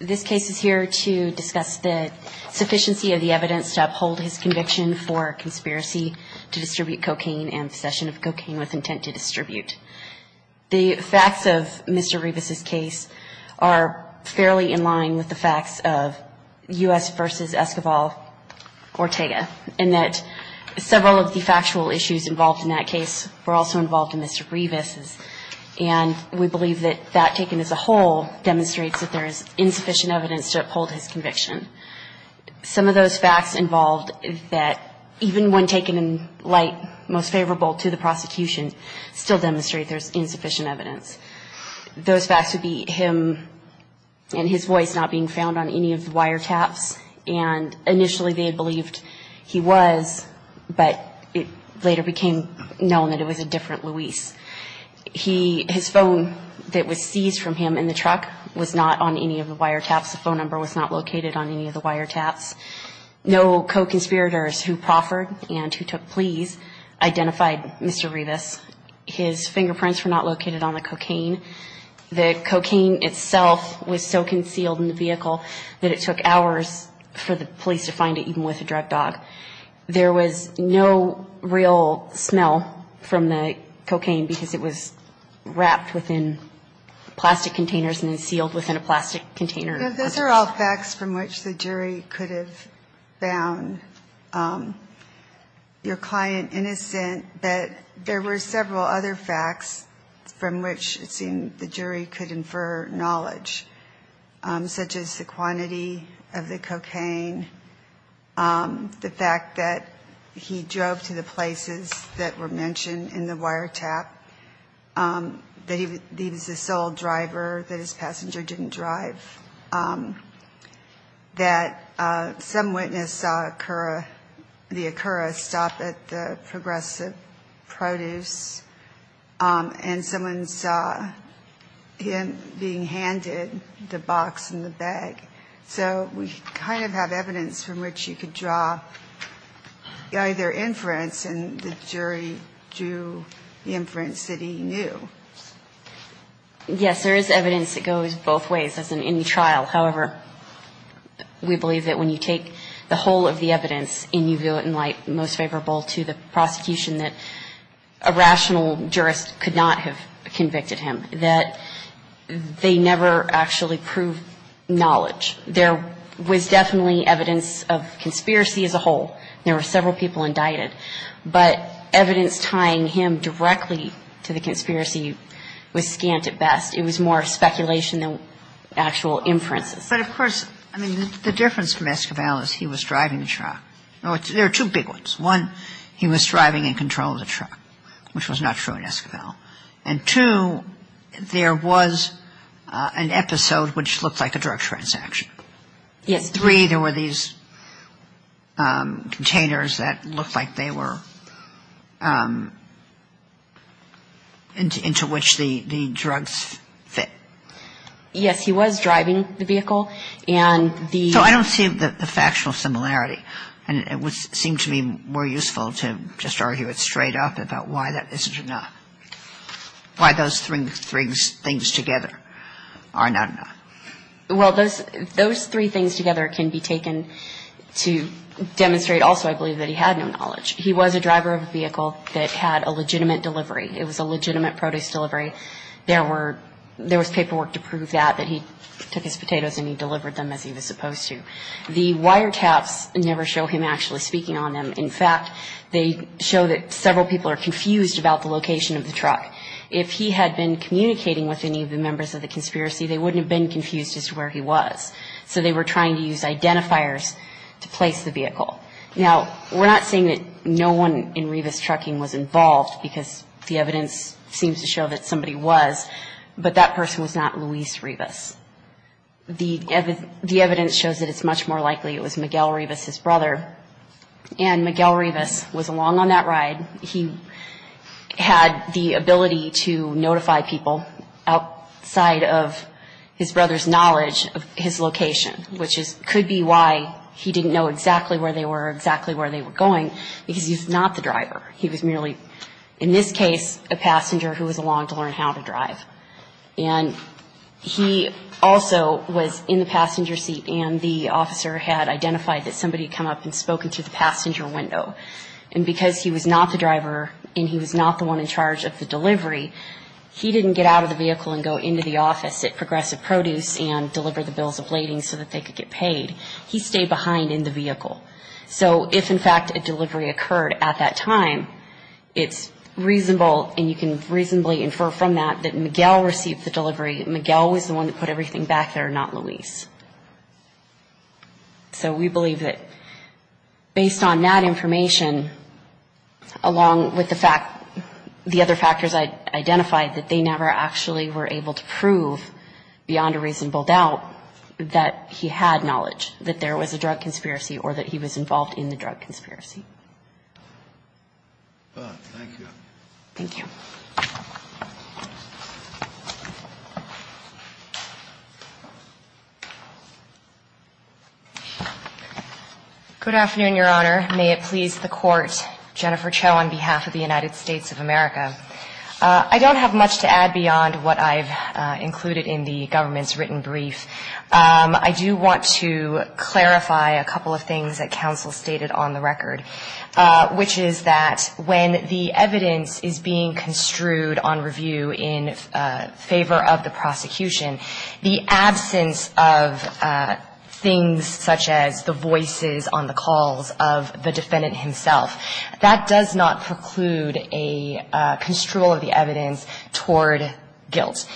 This case is here to discuss the sufficiency of the evidence to uphold his conviction for conspiracy to distribute cocaine and possession of cocaine with intent to distribute. The facts of Mr. Rivas' case are fairly in line with the facts of U.S. v. Escobar Ortega in that several of the factual issues involved in that case were also involved in Mr. Rivas' and we believe that that taken as a whole demonstrates that there is insufficient evidence to uphold his conviction. Some of those facts involved that even when taken in light most favorable to the prosecution still demonstrate there is insufficient evidence. Those facts would be him and his voice not being found on any of the wiretaps and initially they had believed he was, but it later became known that it was a different Luis. His phone that was seized from him in the truck was not on any of the wiretaps. The phone number was not located on any of the wiretaps. No co-conspirators who proffered and who took pleas identified Mr. Rivas. His fingerprints were not located on the cocaine. The cocaine itself was so concealed in the vehicle that it took hours for the police to find it even with a drug dog. There was no real smell from the cocaine because it was wrapped within plastic containers and then sealed within a plastic container. Those are all facts from which the jury could have found your client innocent, but there were several other facts from which it seemed the jury could infer knowledge, such as the quantity of the cocaine, the fact that he drove to the places that were mentioned in the wiretap, that he was the sole driver, that his passenger didn't drive, that some witness saw the Acura stop at the Progressive Produce and someone saw him being handed the box and the bag. So we kind of have evidence from which you could draw either inference and the jury drew the inference that he knew. Yes, there is evidence that goes both ways as in any trial. However, we believe that when you take the whole of the evidence and you do it in light most favorable to the prosecution that a rational jurist could not have convicted him, that they never actually proved knowledge. There was definitely evidence of conspiracy as a whole. There were several people indicted, but evidence tying him directly to the conspiracy was scant at best. It was more speculation than actual inferences. But of course, I mean, the difference from Esquivel is he was driving the truck. There are two big ones. One, he was driving in control of the truck, which was not true in Esquivel. And two, there was an episode which looked like a drug transaction. Yes. And three, there were these containers that looked like they were into which the drugs fit. Yes, he was driving the vehicle. So I don't see the factual similarity. And it would seem to me more useful to just argue it straight up about why that isn't enough, why those three things together are not enough. Well, those three things together can be taken to demonstrate also, I believe, that he had no knowledge. He was a driver of a vehicle that had a legitimate delivery. It was a legitimate produce delivery. There was paperwork to prove that, that he took his potatoes and he delivered them as he was supposed to. The wiretaps never show him actually speaking on them. In fact, they show that several people are confused about the location of the truck. If he had been communicating with any of the members of the conspiracy, they wouldn't have been confused as to where he was. So they were trying to use identifiers to place the vehicle. Now, we're not saying that no one in Revis Trucking was involved because the evidence seems to show that somebody was. But that person was not Luis Revis. The evidence shows that it's much more likely it was Miguel Revis, his brother. And Miguel Revis was along on that ride. He had the ability to notify people outside of his brother's knowledge of his location, which could be why he didn't know exactly where they were or exactly where they were going, because he was not the driver. He was merely, in this case, a passenger who was along to learn how to drive. And he also was in the passenger seat and the officer had identified that somebody had come up and spoken through the passenger window. And because he was not the driver and he was not the one in charge of the delivery, he didn't get out of the vehicle and go into the office at Progressive Produce and deliver the bills of lading so that they could get paid. He stayed behind in the vehicle. So if, in fact, a delivery occurred at that time, it's reasonable, and you can reasonably infer from that, that Miguel received the delivery. Miguel was the one that put everything back there, not Luis. So we believe that based on that information, along with the fact, the other factors I identified, that they never actually were able to prove beyond a reasonable doubt that he had knowledge, that there was a drug conspiracy or that he was involved in the drug conspiracy. Thank you. Thank you. Good afternoon, Your Honor. May it please the Court. Jennifer Cho on behalf of the United States of America. I don't have much to add beyond what I've included in the government's written brief. I do want to clarify a couple of things that counsel stated on the record, which is that when the evidence is being construed on review in favor of the prosecution, the absence of things such as the voices on the calls of the defendant himself, that does not preclude a construal of the evidence toward guilt.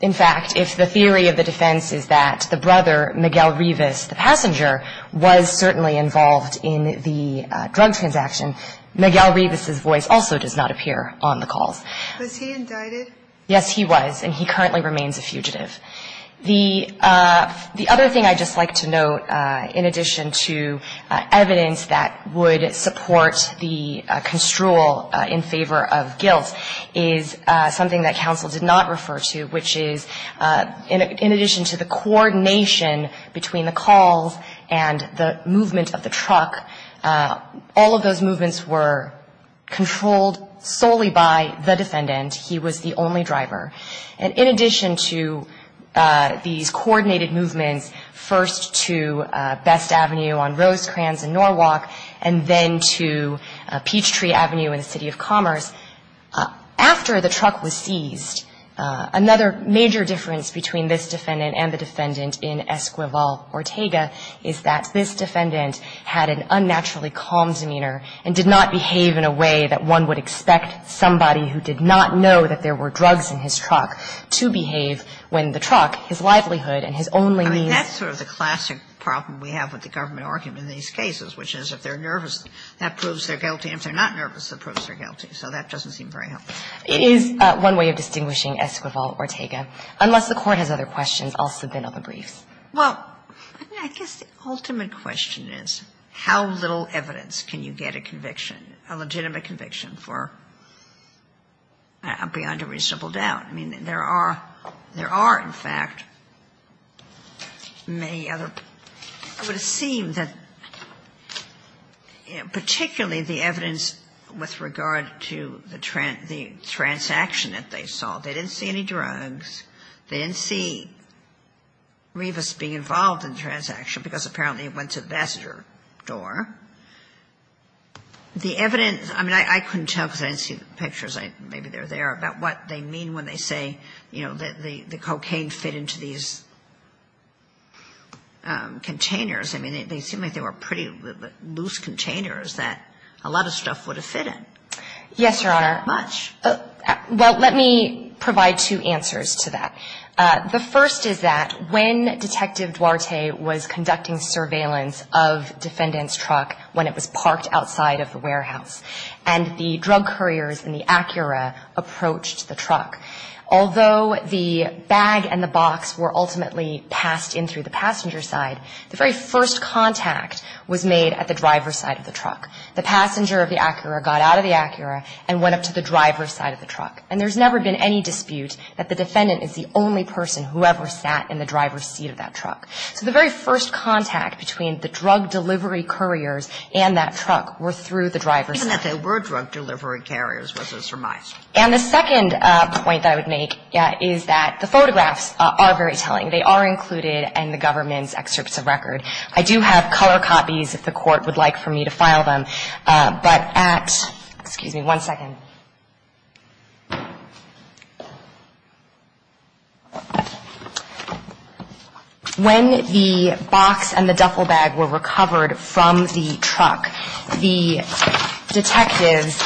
In fact, if the theory of the defense is that the brother, Miguel Rivas, the passenger, was certainly involved in the drug transaction, Miguel Rivas' voice also does not appear on the calls. Was he indicted? Yes, he was, and he currently remains a fugitive. The other thing I'd just like to note, in addition to evidence that would support the construal in favor of guilt, is something that counsel did not refer to, which is in addition to the coordination between the calls and the movement of the truck, all of those movements were controlled solely by the defendant. He was the only driver. And in addition to these coordinated movements, first to Best Avenue on Rosecrans and Norwalk, and then to Peachtree Avenue in the City of Commerce, after the truck was seized, another major difference between this defendant and the defendant in Esquivel-Ortega is that this defendant had an unnaturally calm demeanor and did not behave in a way that one would expect somebody who did not know that there were drugs in his truck to behave when the truck, his livelihood and his only means. I mean, that's sort of the classic problem we have with the government argument in these cases, which is if they're nervous, that proves they're guilty. And if they're not nervous, that proves they're guilty. So that doesn't seem very helpful. It is one way of distinguishing Esquivel-Ortega. Unless the Court has other questions, I'll submit other briefs. Well, I guess the ultimate question is how little evidence can you get a conviction, a legitimate conviction for beyond a reasonable doubt. I mean, there are in fact many other. It would seem that particularly the evidence with regard to the transaction that they saw, they didn't see any drugs. They didn't see Rivas being involved in the transaction because apparently it went to the Ambassador door. The evidence, I mean, I couldn't tell because I didn't see the pictures. Maybe they're there, about what they mean when they say, you know, that the cocaine didn't fit into these containers. I mean, they seem like they were pretty loose containers that a lot of stuff would have fit in. Yes, Your Honor. How much? Well, let me provide two answers to that. The first is that when Detective Duarte was conducting surveillance of Defendant's truck when it was parked outside of the warehouse and the drug couriers and the Acura approached the truck, although the bag and the box were ultimately passed in through the passenger side, the very first contact was made at the driver's side of the truck. The passenger of the Acura got out of the Acura and went up to the driver's side of the truck. And there's never been any dispute that the Defendant is the only person who ever sat in the driver's seat of that truck. So the very first contact between the drug delivery couriers and that truck were through the driver's side. Even if they were drug delivery carriers, was a surmise. And the second point that I would make is that the photographs are very telling. They are included in the government's excerpts of record. I do have color copies if the Court would like for me to file them. But at – excuse me one second. When the box and the duffel bag were recovered from the truck, the detectives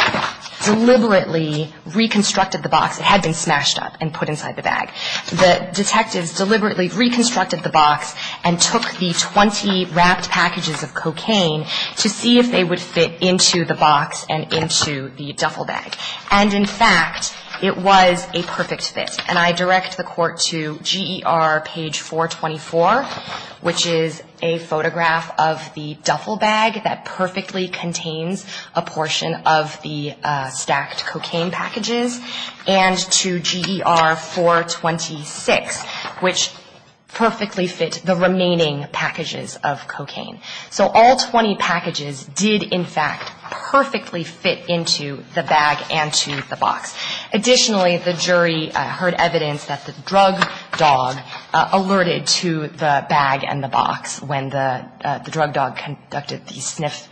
deliberately reconstructed the box. It had been smashed up and put inside the bag. The detectives deliberately reconstructed the box and took the 20 wrapped packages of cocaine to see if they would fit into the box and into the duffel bag. And in fact, it was a perfect fit. And I direct the Court to GER page 424, which is a photograph of the duffel bag that perfectly contains a portion of the stacked cocaine packages. And to GER 426, which perfectly fit the remaining packages of cocaine. So all 20 packages did in fact perfectly fit into the bag and to the box. Additionally, the jury heard evidence that the drug dog alerted to the bag and the box when the drug dog conducted the sniff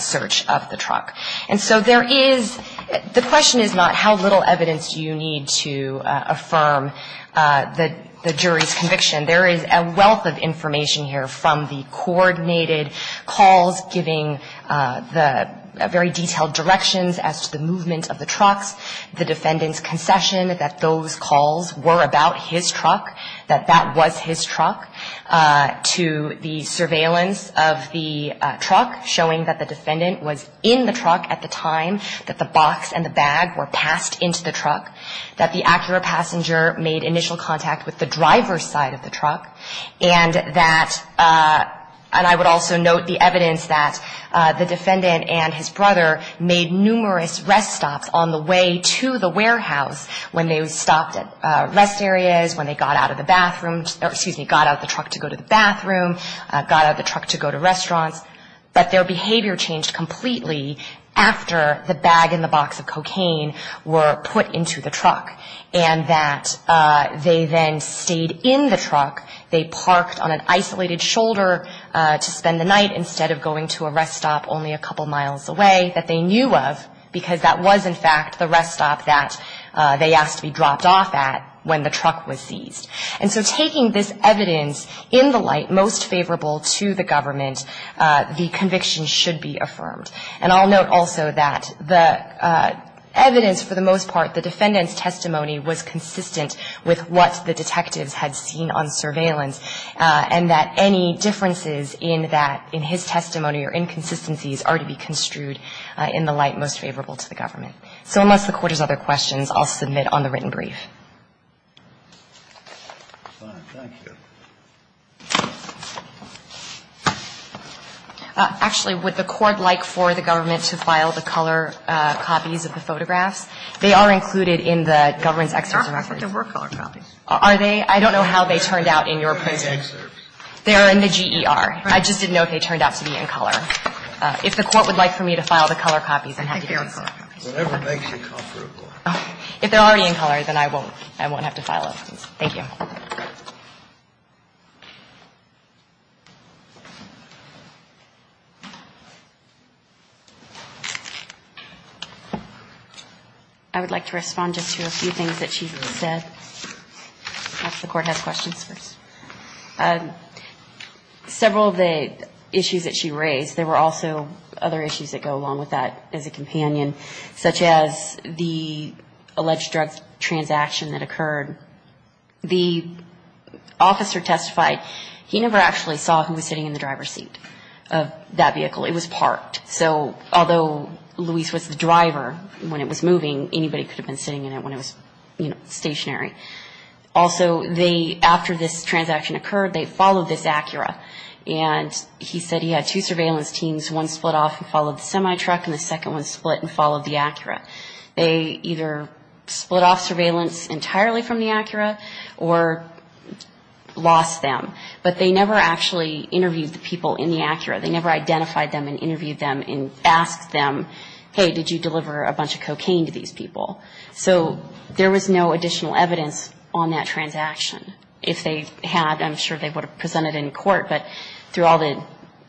search of the truck. And so there is – the question is not how little evidence do you need to affirm the jury's conviction. There is a wealth of information here from the coordinated calls giving the very detailed directions as to the movement of the trucks, the defendant's concession that those calls were about his truck, that that was his truck, to the surveillance of the truck showing that the defendant was in the truck at the time that the box and the bag were passed into the truck, that the Acura passenger made initial contact with the driver's side of the truck, and that – and I would also note the evidence that the defendant and his brother made numerous rest stops on the way to the warehouse when they stopped at rest areas, when they got out of the bathroom – excuse me, got out of the truck to go to the bathroom, got out of the truck to go to restaurants, but their behavior changed completely after the bag and the box of they then stayed in the truck, they parked on an isolated shoulder to spend the night instead of going to a rest stop only a couple miles away that they knew of, because that was, in fact, the rest stop that they asked to be dropped off at when the truck was seized. And so taking this evidence in the light most favorable to the government, the conviction should be affirmed. And I'll note also that the evidence for the most part, the defendant's testimony was not based on evidence that the detectives had seen on surveillance and that any differences in that – in his testimony or inconsistencies are to be construed in the light most favorable to the government. So unless the Court has other questions, I'll submit on the written brief. Actually, would the Court like for the government to file the color copies of the photographs? They are included in the government's excersor record. They were color copies. Are they? I don't know how they turned out in your prison. They're in the GER. I just didn't know if they turned out to be in color. If the Court would like for me to file the color copies, then I have to do so. Whatever makes you comfortable. If they're already in color, then I won't. I won't have to file them. Thank you. I would like to respond just to a few things that she's said. Perhaps the Court has questions first. Several of the issues that she raised, there were also other issues that go along with that as a companion, such as the alleged drug transaction that occurred. The officer testified he never actually saw who was sitting in the driver's seat of that vehicle. It was parked. So although Luis was the driver when it was moving, anybody could have been sitting in it when it was stationary. Also, after this transaction occurred, they followed this Acura, and he said he had two surveillance teams. One split off and followed the semi-truck, and the second one split and followed the Acura. They either split off surveillance entirely from the Acura or lost them. But they never actually interviewed the people in the Acura. They never identified them and interviewed them and asked them, hey, did you deliver a bunch of cocaine to these people? So there was no additional evidence on that transaction. If they had, I'm sure they would have presented it in court, but through all the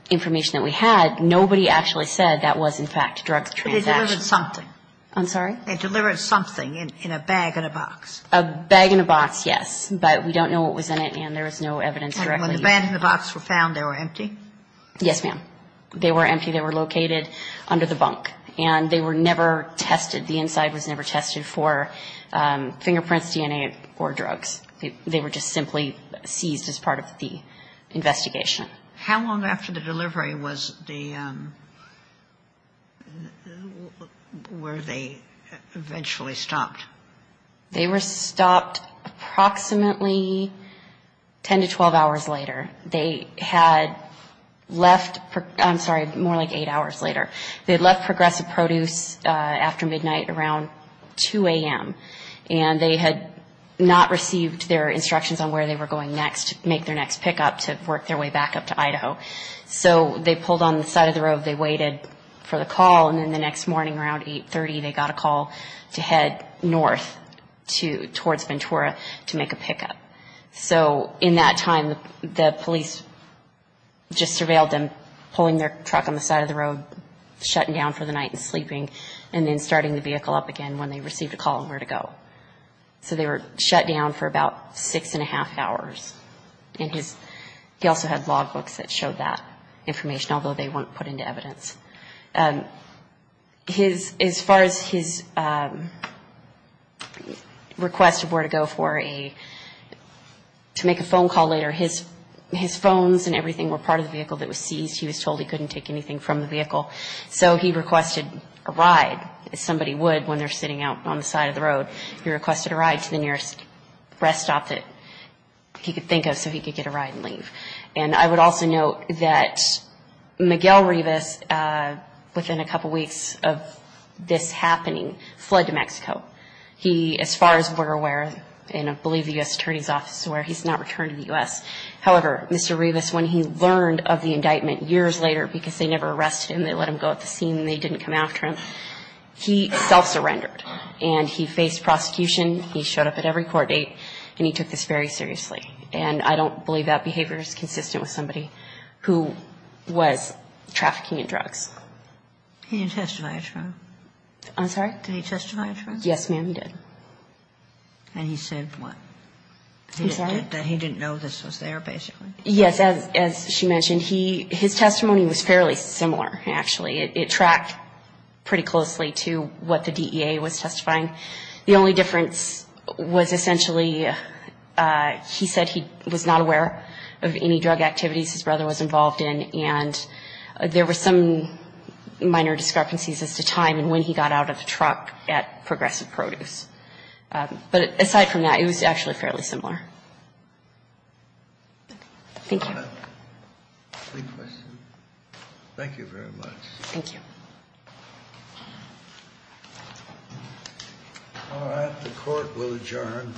information that we had, nobody actually said that was, in fact, a drug transaction. But they delivered something. I'm sorry? They delivered something in a bag and a box. A bag and a box, yes. But we don't know what was in it, and there was no evidence directly. And when the bag and the box were found, they were empty? Yes, ma'am. They were empty. They were located under the bunk. And they were never tested. The inside was never tested for fingerprints, DNA, or drugs. They were just simply seized as part of the investigation. How long after the delivery was the, were they eventually stopped? They were stopped approximately 10 to 12 hours later. They had left, I'm sorry, more like eight hours later. They had left Progressive Produce after midnight around 2 a.m. And they had not received their instructions on where they were going next, make their next pickup to work their way back up to Idaho. So they pulled on the side of the road, they waited for the call, and then the next morning around 8.30 they got a call to head north towards Ventura to make a pickup. So in that time the police just surveilled them, pulling their truck on the side of the road, shutting down for the night and sleeping, and then starting the vehicle up again when they received a call on where to go. So they were shut down for about six and a half hours. And he also had log books that showed that information, although they weren't put into evidence. As far as his request of where to go for a, to make a phone call later, his phones and everything were part of the vehicle that was seized. So he requested a ride, as somebody would when they're sitting out on the side of the road. He requested a ride to the nearest rest stop that he could think of so he could get a ride and leave. And I would also note that Miguel Rivas, within a couple weeks of this happening, fled to Mexico. He, as far as we're aware, and I believe the U.S. Attorney's Office is aware, he's not returned to the U.S. However, Mr. Rivas, when he learned of the indictment years later, because they never arrested him, they let him go at the scene and they didn't come after him, he self-surrendered. And he faced prosecution. He showed up at every court date, and he took this very seriously. And I don't believe that behavior is consistent with somebody who was trafficking in drugs. He didn't testify at trial? I'm sorry? Did he testify at trial? Yes, ma'am, he did. And he said what? I'm sorry? That he didn't know this was there, basically? Yes, as she mentioned, his testimony was fairly similar, actually. It tracked pretty closely to what the DEA was testifying. The only difference was essentially he said he was not aware of any drug activities his brother was involved in, and there were some minor discrepancies as to time and when he got out of the truck at Progressive Produce. But aside from that, it was actually fairly similar. Thank you. All right. Great question. Thank you very much. Thank you. All right. The Court will adjourn.